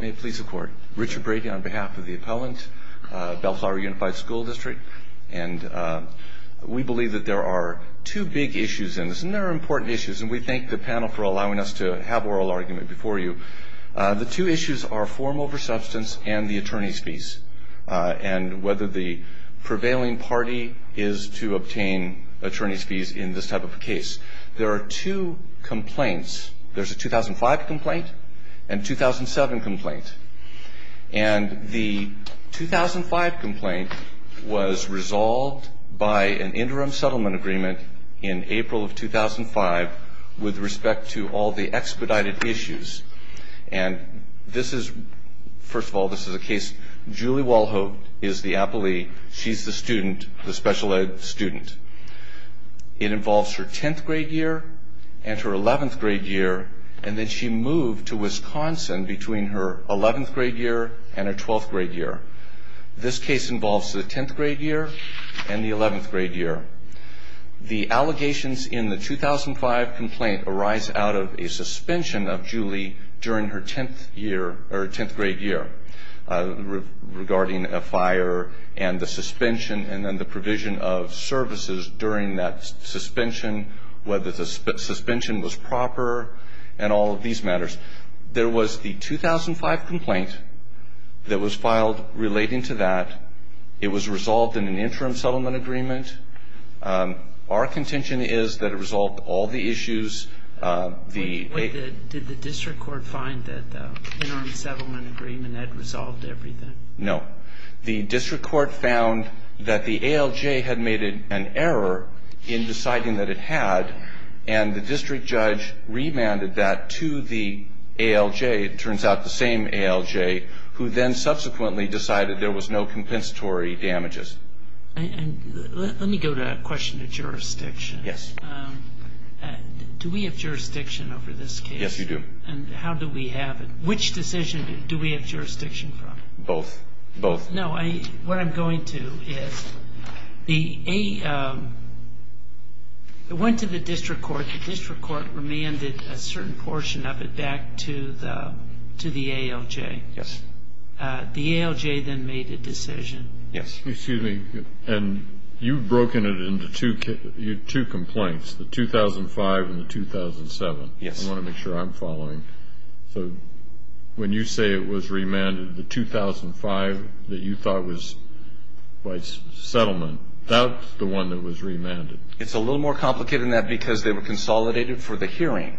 May it please the court. Richard Brady on behalf of the appellant, Bellflower Unified School District. And we believe that there are two big issues in this. And there are important issues. And we thank the panel for allowing us to have oral argument before you. The two issues are form over substance and the attorney's fees, and whether the prevailing party is to obtain attorney's fees in this type of a case. There are two complaints. There's a 2005 complaint and 2007 complaint. And the 2005 complaint was resolved by an interim settlement agreement in April of 2005 with respect to all the expedited issues. And this is, first of all, this is a case, Julie Walhovd is the appellee. She's the student, the special ed student. It involves her 10th grade year and her 11th grade year. And then she moved to Wisconsin between her 11th grade year and her 12th grade year. This case involves the 10th grade year and the 11th grade year. The allegations in the 2005 complaint arise out of a suspension of Julie during her 10th grade year regarding a fire and the suspension and then during that suspension, whether the suspension was proper, and all of these matters. There was the 2005 complaint that was filed relating to that. It was resolved in an interim settlement agreement. Our contention is that it resolved all the issues. Did the district court find that the interim settlement agreement had resolved everything? No. The district court found that the ALJ had made an error in deciding that it had. And the district judge remanded that to the ALJ, it turns out the same ALJ, who then subsequently decided there was no compensatory damages. Let me go to a question of jurisdiction. Yes. Do we have jurisdiction over this case? Yes, you do. And how do we have it? Which decision do we have jurisdiction from? Both. Both. No, what I'm going to is, it went to the district court. The district court remanded a certain portion of it back to the ALJ. The ALJ then made a decision. Yes. Excuse me, and you've broken it into two complaints, the 2005 and the 2007. Yes. I want to make sure I'm following. So when you say it was remanded, the 2005 that you thought was by settlement, that's the one that was remanded. It's a little more complicated than that, because they were consolidated for the hearing.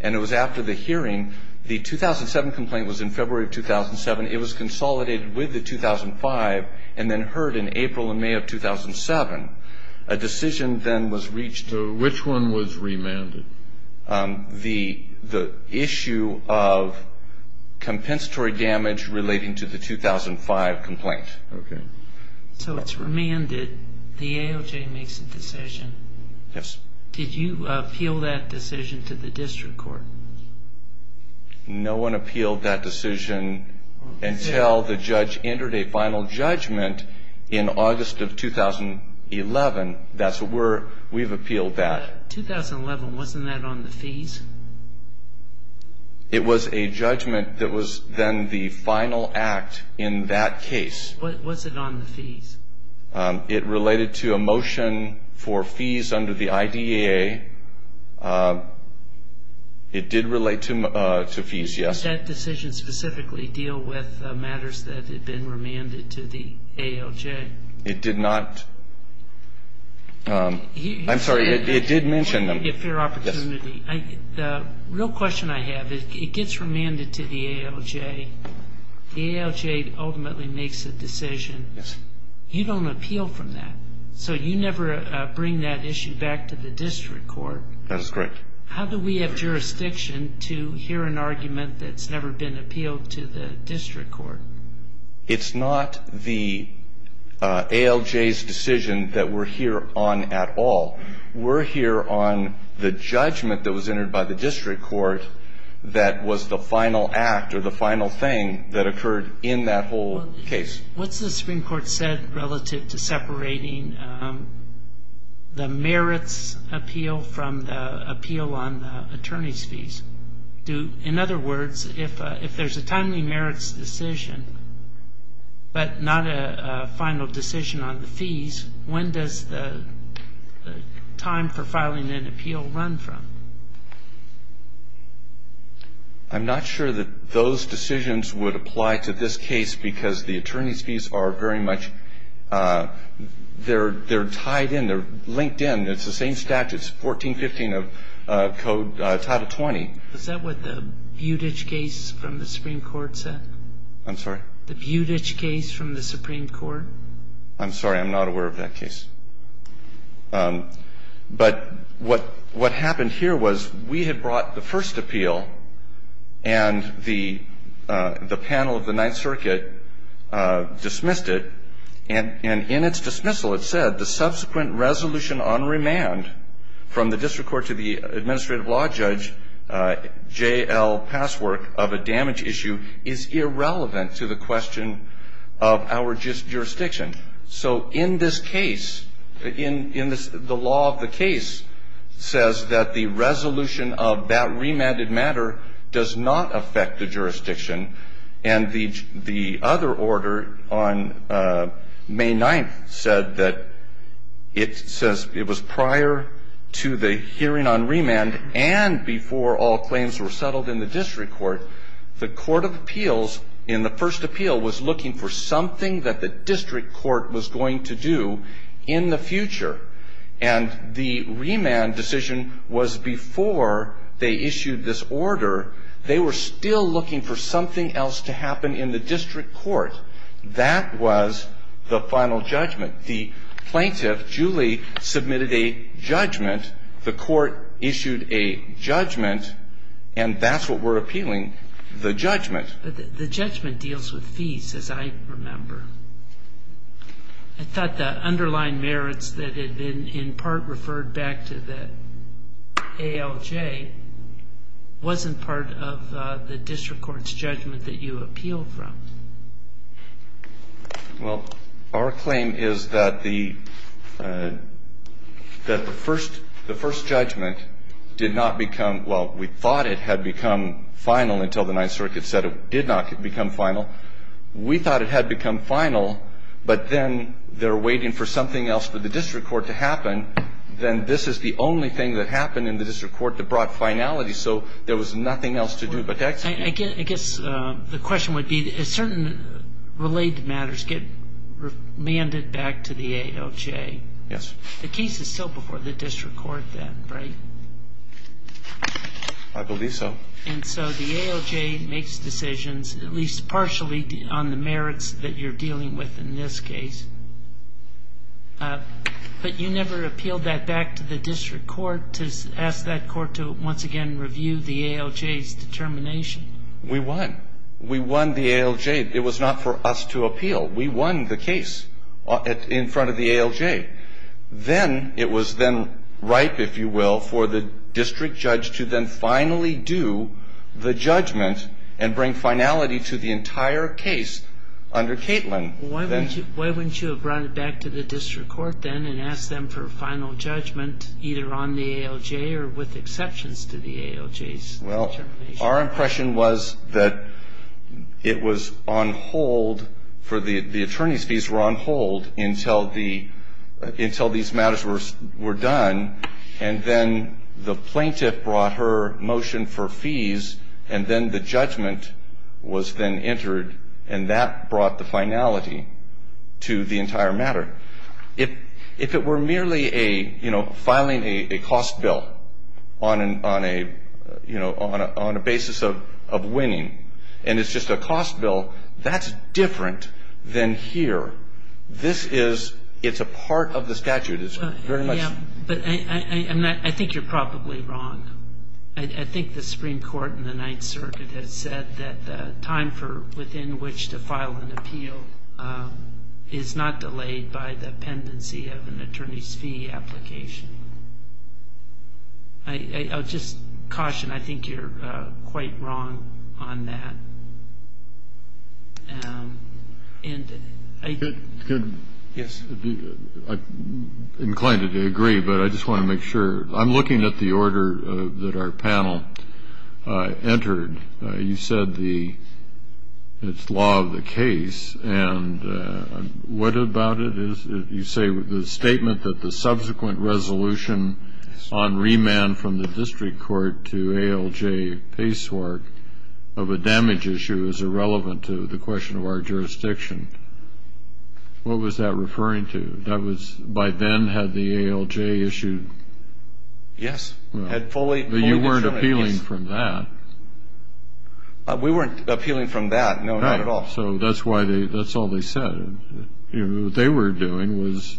And it was after the hearing, the 2007 complaint was in February of 2007. It was consolidated with the 2005, and then heard in April and May of 2007. A decision then was reached. Which one was remanded? The issue of compensatory damage relating to the 2005 complaint. OK. So it's remanded, the ALJ makes a decision. Yes. Did you appeal that decision to the district court? No one appealed that decision until the judge entered a final judgment in August of 2011. That's where we've appealed that. 2011, wasn't that on the fees? It was a judgment that was then the final act in that case. Was it on the fees? It related to a motion for fees under the IDAA. It did relate to fees, yes. Did that decision specifically deal with matters that had been remanded to the ALJ? It did not. I'm sorry. It did mention them. If you have the opportunity. Real question I have is, it gets remanded to the ALJ. The ALJ ultimately makes a decision. You don't appeal from that. So you never bring that issue back to the district court. That is correct. How do we have jurisdiction to hear an argument that's never been appealed to the district court? It's not the ALJ's decision that we're here on at all. We're here on the judgment that was entered by the district court that was the final act or the final thing that occurred in that whole case. What's the Supreme Court said relative to separating the merits appeal from the appeal on the attorney's fees? In other words, if there's a timely merits decision, but not a final decision on the fees, when does the time for filing an appeal run from? I'm not sure that those decisions would apply to this case, because the attorney's fees are very much they're tied in. They're linked in. It's the same statutes, 1415 of Code Title 20. Is that what the Buttigieg case from the Supreme Court said? I'm sorry? The Buttigieg case from the Supreme Court? I'm sorry, I'm not aware of that case. But what happened here was we had brought the first appeal, and the panel of the Ninth Circuit dismissed it. And in its dismissal, it said, the subsequent resolution on remand from the district court to the administrative law judge, JL Passwork, of a damage issue is irrelevant to the question of our jurisdiction. So in this case, the law of the case says that the resolution of that remanded matter does not affect the jurisdiction. And the other order on May 9th said that it says it was prior to the hearing on remand and before all claims were settled in the district court, the court of appeals in the first appeal was looking for something that the district court was going to do in the future. And the remand decision was before they issued this order. They were still looking for something else to happen in the district court. That was the final judgment. The plaintiff, Julie, submitted a judgment. The court issued a judgment. And that's what we're appealing, the judgment. The judgment deals with fees, as I remember. I thought the underlying merits that had been in part referred back to the ALJ wasn't part of the district court's judgment that you appealed from. Well, our claim is that the first judgment did not become, well, we thought it had become final until the Ninth Circuit said it did not become final. We thought it had become final. But then they're waiting for something else for the district court to happen. Then this is the only thing that happened in the district court that brought finality. So there was nothing else to do but to execute. I guess the question would be, as certain related matters get remanded back to the ALJ, the case is still before the district court then, right? I believe so. And so the ALJ makes decisions, at least partially, on the merits that you're dealing with in this case. But you never appealed that back to the district court to ask that court to once again review the ALJ's determination? We won. We won the ALJ. It was not for us to appeal. We won the case in front of the ALJ. Then it was then ripe, if you will, for the district judge to then finally do the judgment and bring finality to the entire case under Katelyn. Why wouldn't you have brought it back to the district court then and asked them for a final judgment, either on the ALJ or with exceptions to the ALJ's determination? Well, our impression was that it was on hold for the attorney's fees were on hold until these matters were done. And then the plaintiff brought her motion for fees. And then the judgment was then entered. And that brought the finality to the entire matter. If it were merely filing a cost bill on a basis of winning, and it's just a cost bill, that's different than here. It's a part of the statute. But I think you're probably wrong. I think the Supreme Court in the Ninth Circuit has said that the time within which to file an appeal is not delayed by the pendency of an attorney's fee application. I'll just caution. I think you're quite wrong on that. Yes. Inclined to agree, but I just want to make sure. I'm looking at the order that our panel entered. You said it's law of the case. And what about it is, you say, the statement that the subsequent resolution on remand from the district court to ALJ Pacewark of a damage issue is irrelevant to the question of our jurisdiction. What was that referring to? By then, had the ALJ issued? Yes, had fully. But you weren't appealing from that. We weren't appealing from that, no, not at all. Right, so that's why they, that's all they said. What they were doing was,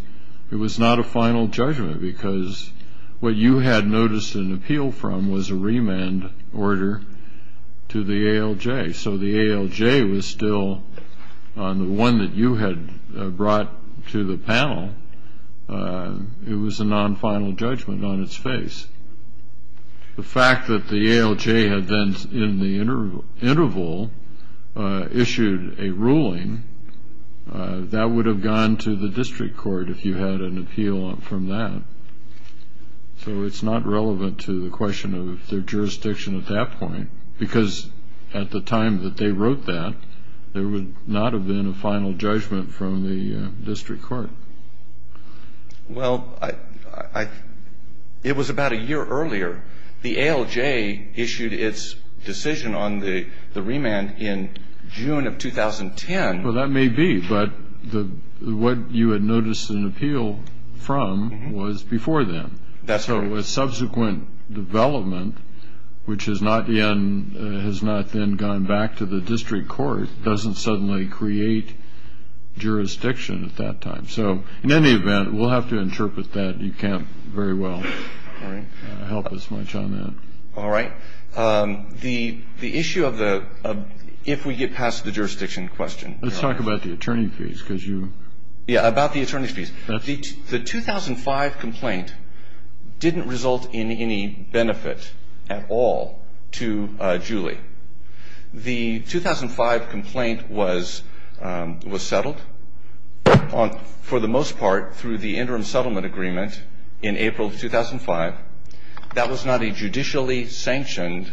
it was not a final judgment. Because what you had noticed an appeal from was a remand order to the ALJ. So the ALJ was still, on the one that you had brought to the panel, it was a non-final judgment on its face. The fact that the ALJ had then, in the interval, issued a ruling, that would have gone to the district court if you had an appeal from that. So it's not relevant to the question of their jurisdiction at that point. Because at the time that they wrote that, there would not have been a final judgment from the district court. Well, it was about a year earlier. The ALJ issued its decision on the remand in June of 2010. Well, that may be. But what you had noticed an appeal from was before then. That's right. So a subsequent development, which has not then gone back to the district court, doesn't suddenly create jurisdiction at that time. So in any event, we'll have to interpret that. You can't very well help us much on that. All right. The issue of the, if we get past the jurisdiction question. Let's talk about the attorney fees, because you. Yeah, about the attorney fees. The 2005 complaint didn't result in any benefit at all to Julie. The 2005 complaint was settled, for the most part, through the interim settlement agreement in April of 2005. That was not a judicially sanctioned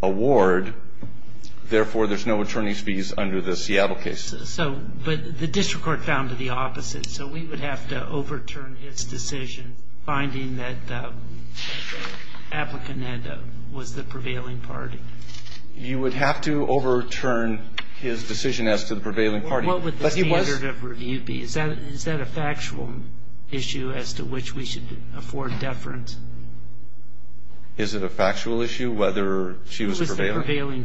award. Therefore, there's no attorney's fees under the Seattle case. But the district court found the opposite. So we would have to overturn its decision, finding that the applicant was the prevailing party. You would have to overturn his decision as to the prevailing party. What would the standard of review be? Is that a factual issue as to which we should afford deference? Is it a factual issue, whether she was prevailing?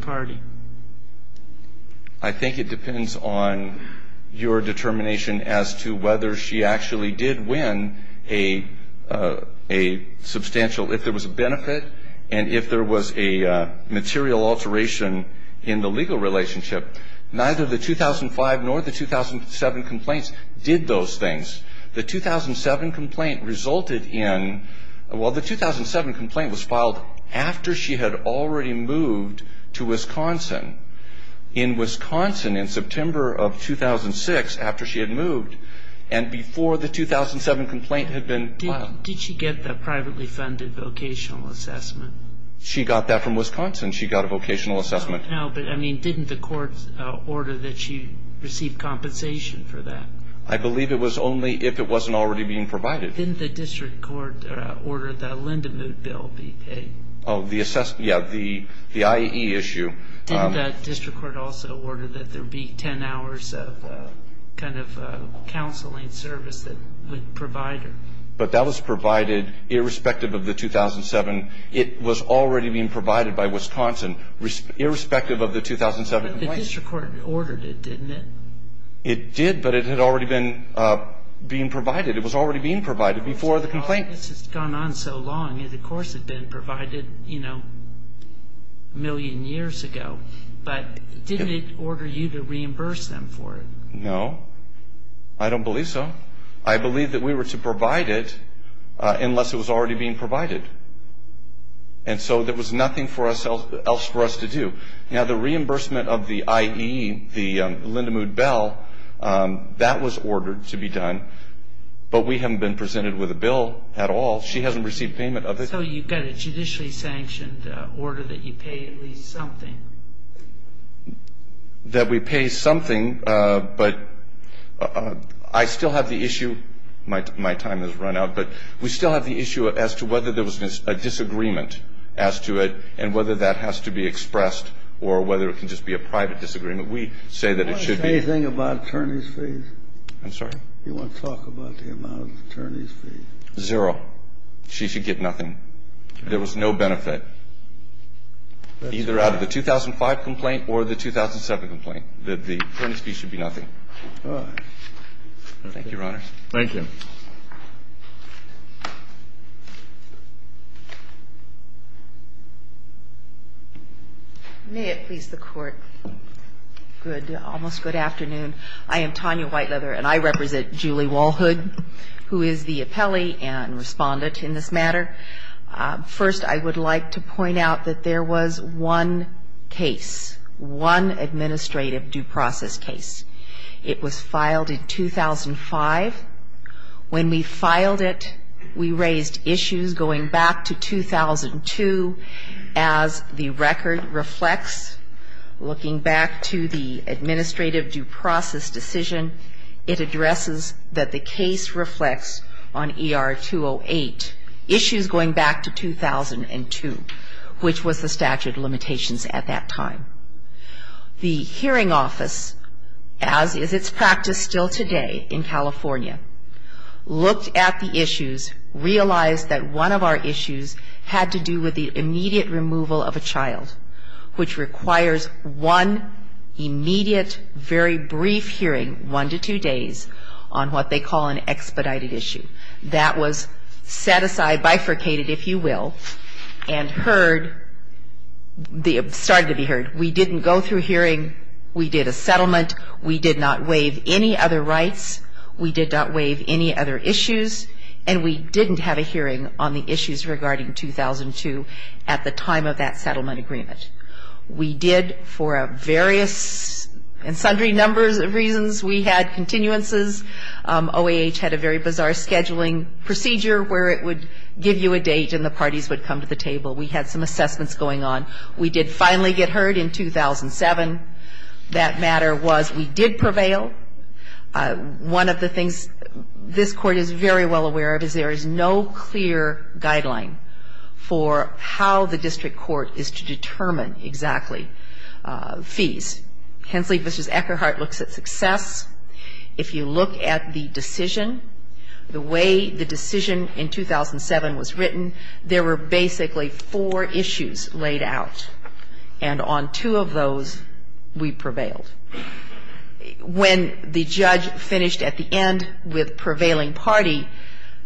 I think it depends on your determination as to whether she actually did win a substantial, if there was a benefit, and if there was a material alteration in the legal relationship. Neither the 2005 nor the 2007 complaints did those things. The 2007 complaint resulted in, well, the 2007 complaint was filed after she had already moved to Wisconsin. In Wisconsin, in September of 2006, after she had moved, and before the 2007 complaint had been filed. Did she get the privately funded vocational assessment? She got that from Wisconsin. She got a vocational assessment. No, but didn't the court order that she receive compensation for that? I believe it was only if it wasn't already being provided. Didn't the district court order that a Lend-A-Moot bill be paid? Oh, yeah, the IAE issue. Didn't the district court also order that there be 10 hours of counseling service that would provide her? But that was provided, irrespective of the 2007. It was already being provided by Wisconsin, irrespective of the 2007 complaint. But the district court ordered it, didn't it? It did, but it had already been provided. It was already being provided before the complaint. This has gone on so long. It, of course, had been provided a million years ago. But didn't it order you to reimburse them for it? No, I don't believe so. I believe that we were to provide it unless it was already being provided. And so there was nothing else for us to do. Now, the reimbursement of the IAE, the Lend-A-Moot bill, that was ordered to be done. But we haven't been presented with a bill at all. She hasn't received payment of it. So you've got a judicially sanctioned order that you pay at least something? That we pay something, but I still have the issue. My time has run out. But we still have the issue as to whether there was a disagreement as to it and whether that has to be expressed or whether it can just be a private disagreement. We say that it should be. Anything about attorney's fees? I'm sorry? You want to talk about the amount of attorney's fees? Zero. She should get nothing. There was no benefit, either out of the 2005 complaint or the 2007 complaint, that the attorney's fees should be nothing. Thank you, Your Honor. Thank you. May it please the Court. Good. Almost good afternoon. I am Tanya Whiteleather. And I represent Julie Walhood, who is the appellee and respondent in this matter. First, I would like to point out that there was one case, one administrative due process case. It was filed in 2005. When we filed it, we raised issues going back to 2002 as the record reflects. Looking back to the administrative due process decision, it addresses that the case reflects on ER 208, issues going back to 2002, which was the statute of limitations at that time. The hearing office, as is its practice still today in California, looked at the issues, realized that one of our issues had to do with the immediate removal of a child, which requires one immediate, very brief hearing, one to two days, on what they call an expedited issue. That was set aside, bifurcated, if you will, and heard, started to be heard. We didn't go through a hearing. We did a settlement. We did not waive any other rights. We did not waive any other issues. And we didn't have a hearing on the issues regarding 2002 at the time of that settlement agreement. We did, for various and sundry numbers of reasons, we had continuances. OAH had a very bizarre scheduling procedure where it would give you a date and the parties would come to the table. We had some assessments going on. We did finally get heard in 2007. That matter was we did prevail. One of the things this Court is very well aware of is there is no clear guideline for how the district court is to determine exactly fees. Hensley v. Eckerhart looks at success. If you look at the decision, the way the decision in 2007 was written, there were basically four issues laid out. And on two of those, we prevailed. When the judge finished at the end with prevailing party,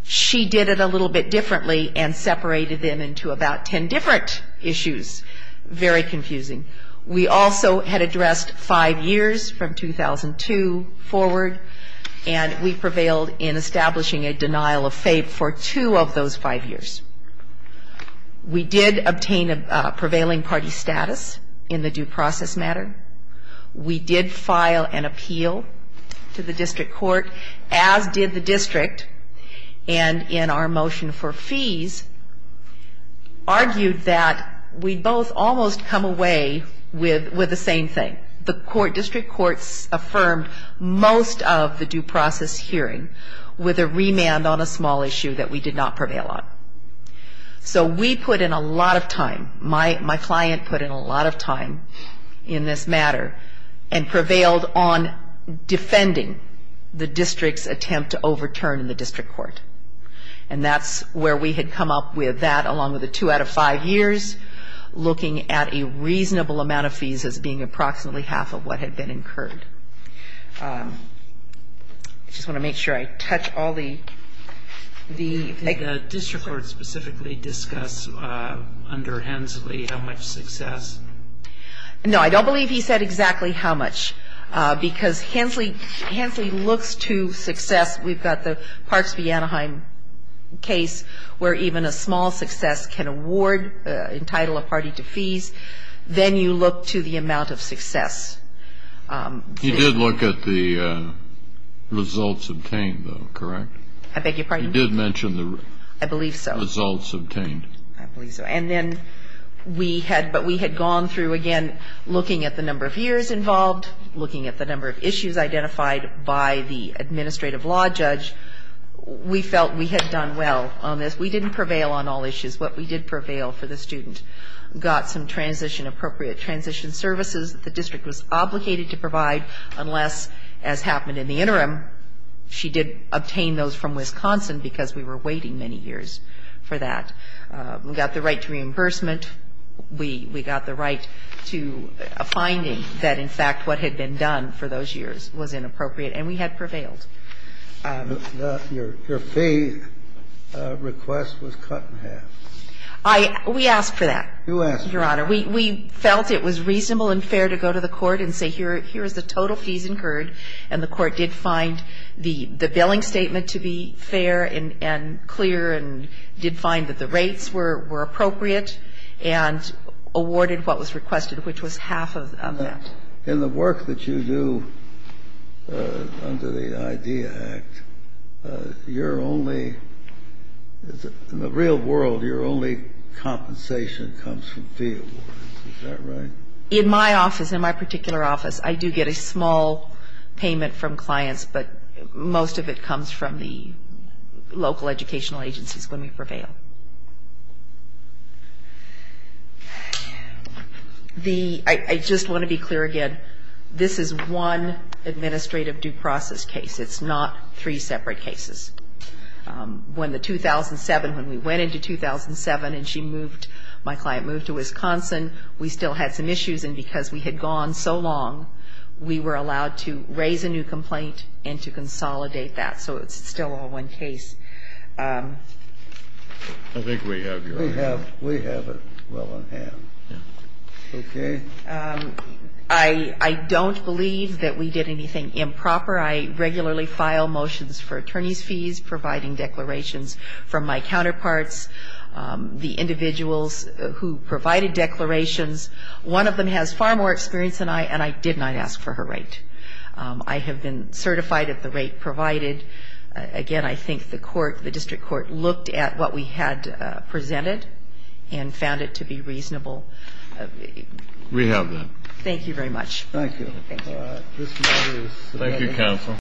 she did it a little bit differently and separated them into about 10 different issues. Very confusing. We also had addressed five years from 2002 forward. And we prevailed in establishing a denial of faith for two of those five years. We did obtain a prevailing party status in the due process matter. We did file an appeal to the district court, as did the district. And in our motion for fees, argued that we both almost come away with the same thing. The district courts affirmed most of the due process hearing with a remand on a small issue that we did not prevail on. So we put in a lot of time. My client put in a lot of time in this matter and prevailed on defending the district's attempt to overturn in the district court. And that's where we had come up with that, along with the two out of five years, looking at a reasonable amount of fees as being approximately half of what had been incurred. I just want to make sure I touch all the eggs. Did the district court specifically discuss under Hensley how much success? No, I don't believe he said exactly how much. Because Hensley looks to success. We've got the Parks v. Anaheim case where even a small success can award, entitle a party to fees. Then you look to the amount of success. He did look at the results obtained, though, correct? I beg your pardon? He did mention the results obtained. I believe so. But we had gone through, again, looking at the number of years involved, looking at the number of issues identified by the administrative law judge. We felt we had done well on this. We didn't prevail on all issues. What we did prevail for the student got some transition-appropriate transition services that the district was obligated to provide, unless, as happened in the interim, she did obtain those from Wisconsin because we were waiting many years for that. We got the right to reimbursement. We got the right to a finding that, in fact, what had been done for those years was inappropriate. And we had prevailed. Your fee request was cut in half. We asked for that, Your Honor. We felt it was reasonable and fair to go to the court and say, here is the total fees incurred. And the court did find the billing statement to be fair and clear, and did find that the rates were appropriate, and awarded what was requested, which was half of that. In the work that you do under the IDEA Act, you're only, in the real world, your only compensation comes from fee awards, is that right? In my office, in my particular office, I do get a small payment from clients. But most of it comes from the local educational agencies when we prevail. I just want to be clear again. This is one administrative due process case. It's not three separate cases. When the 2007, when we went into 2007, we still had some issues. And because we had gone so long, we were allowed to raise a new complaint and to consolidate that. So it's still all one case. I think we have your answer. We have it well in hand. OK. I don't believe that we did anything improper. I regularly file motions for attorney's fees, providing declarations from my counterparts, the individuals who provided declarations. One of them has far more experience than I, and I did not ask for her rate. I have been certified at the rate provided. Again, I think the court, the district court, looked at what we had presented and found it to be reasonable. We have that. Thank you very much. Thank you. Thank you. Thank you, counsel.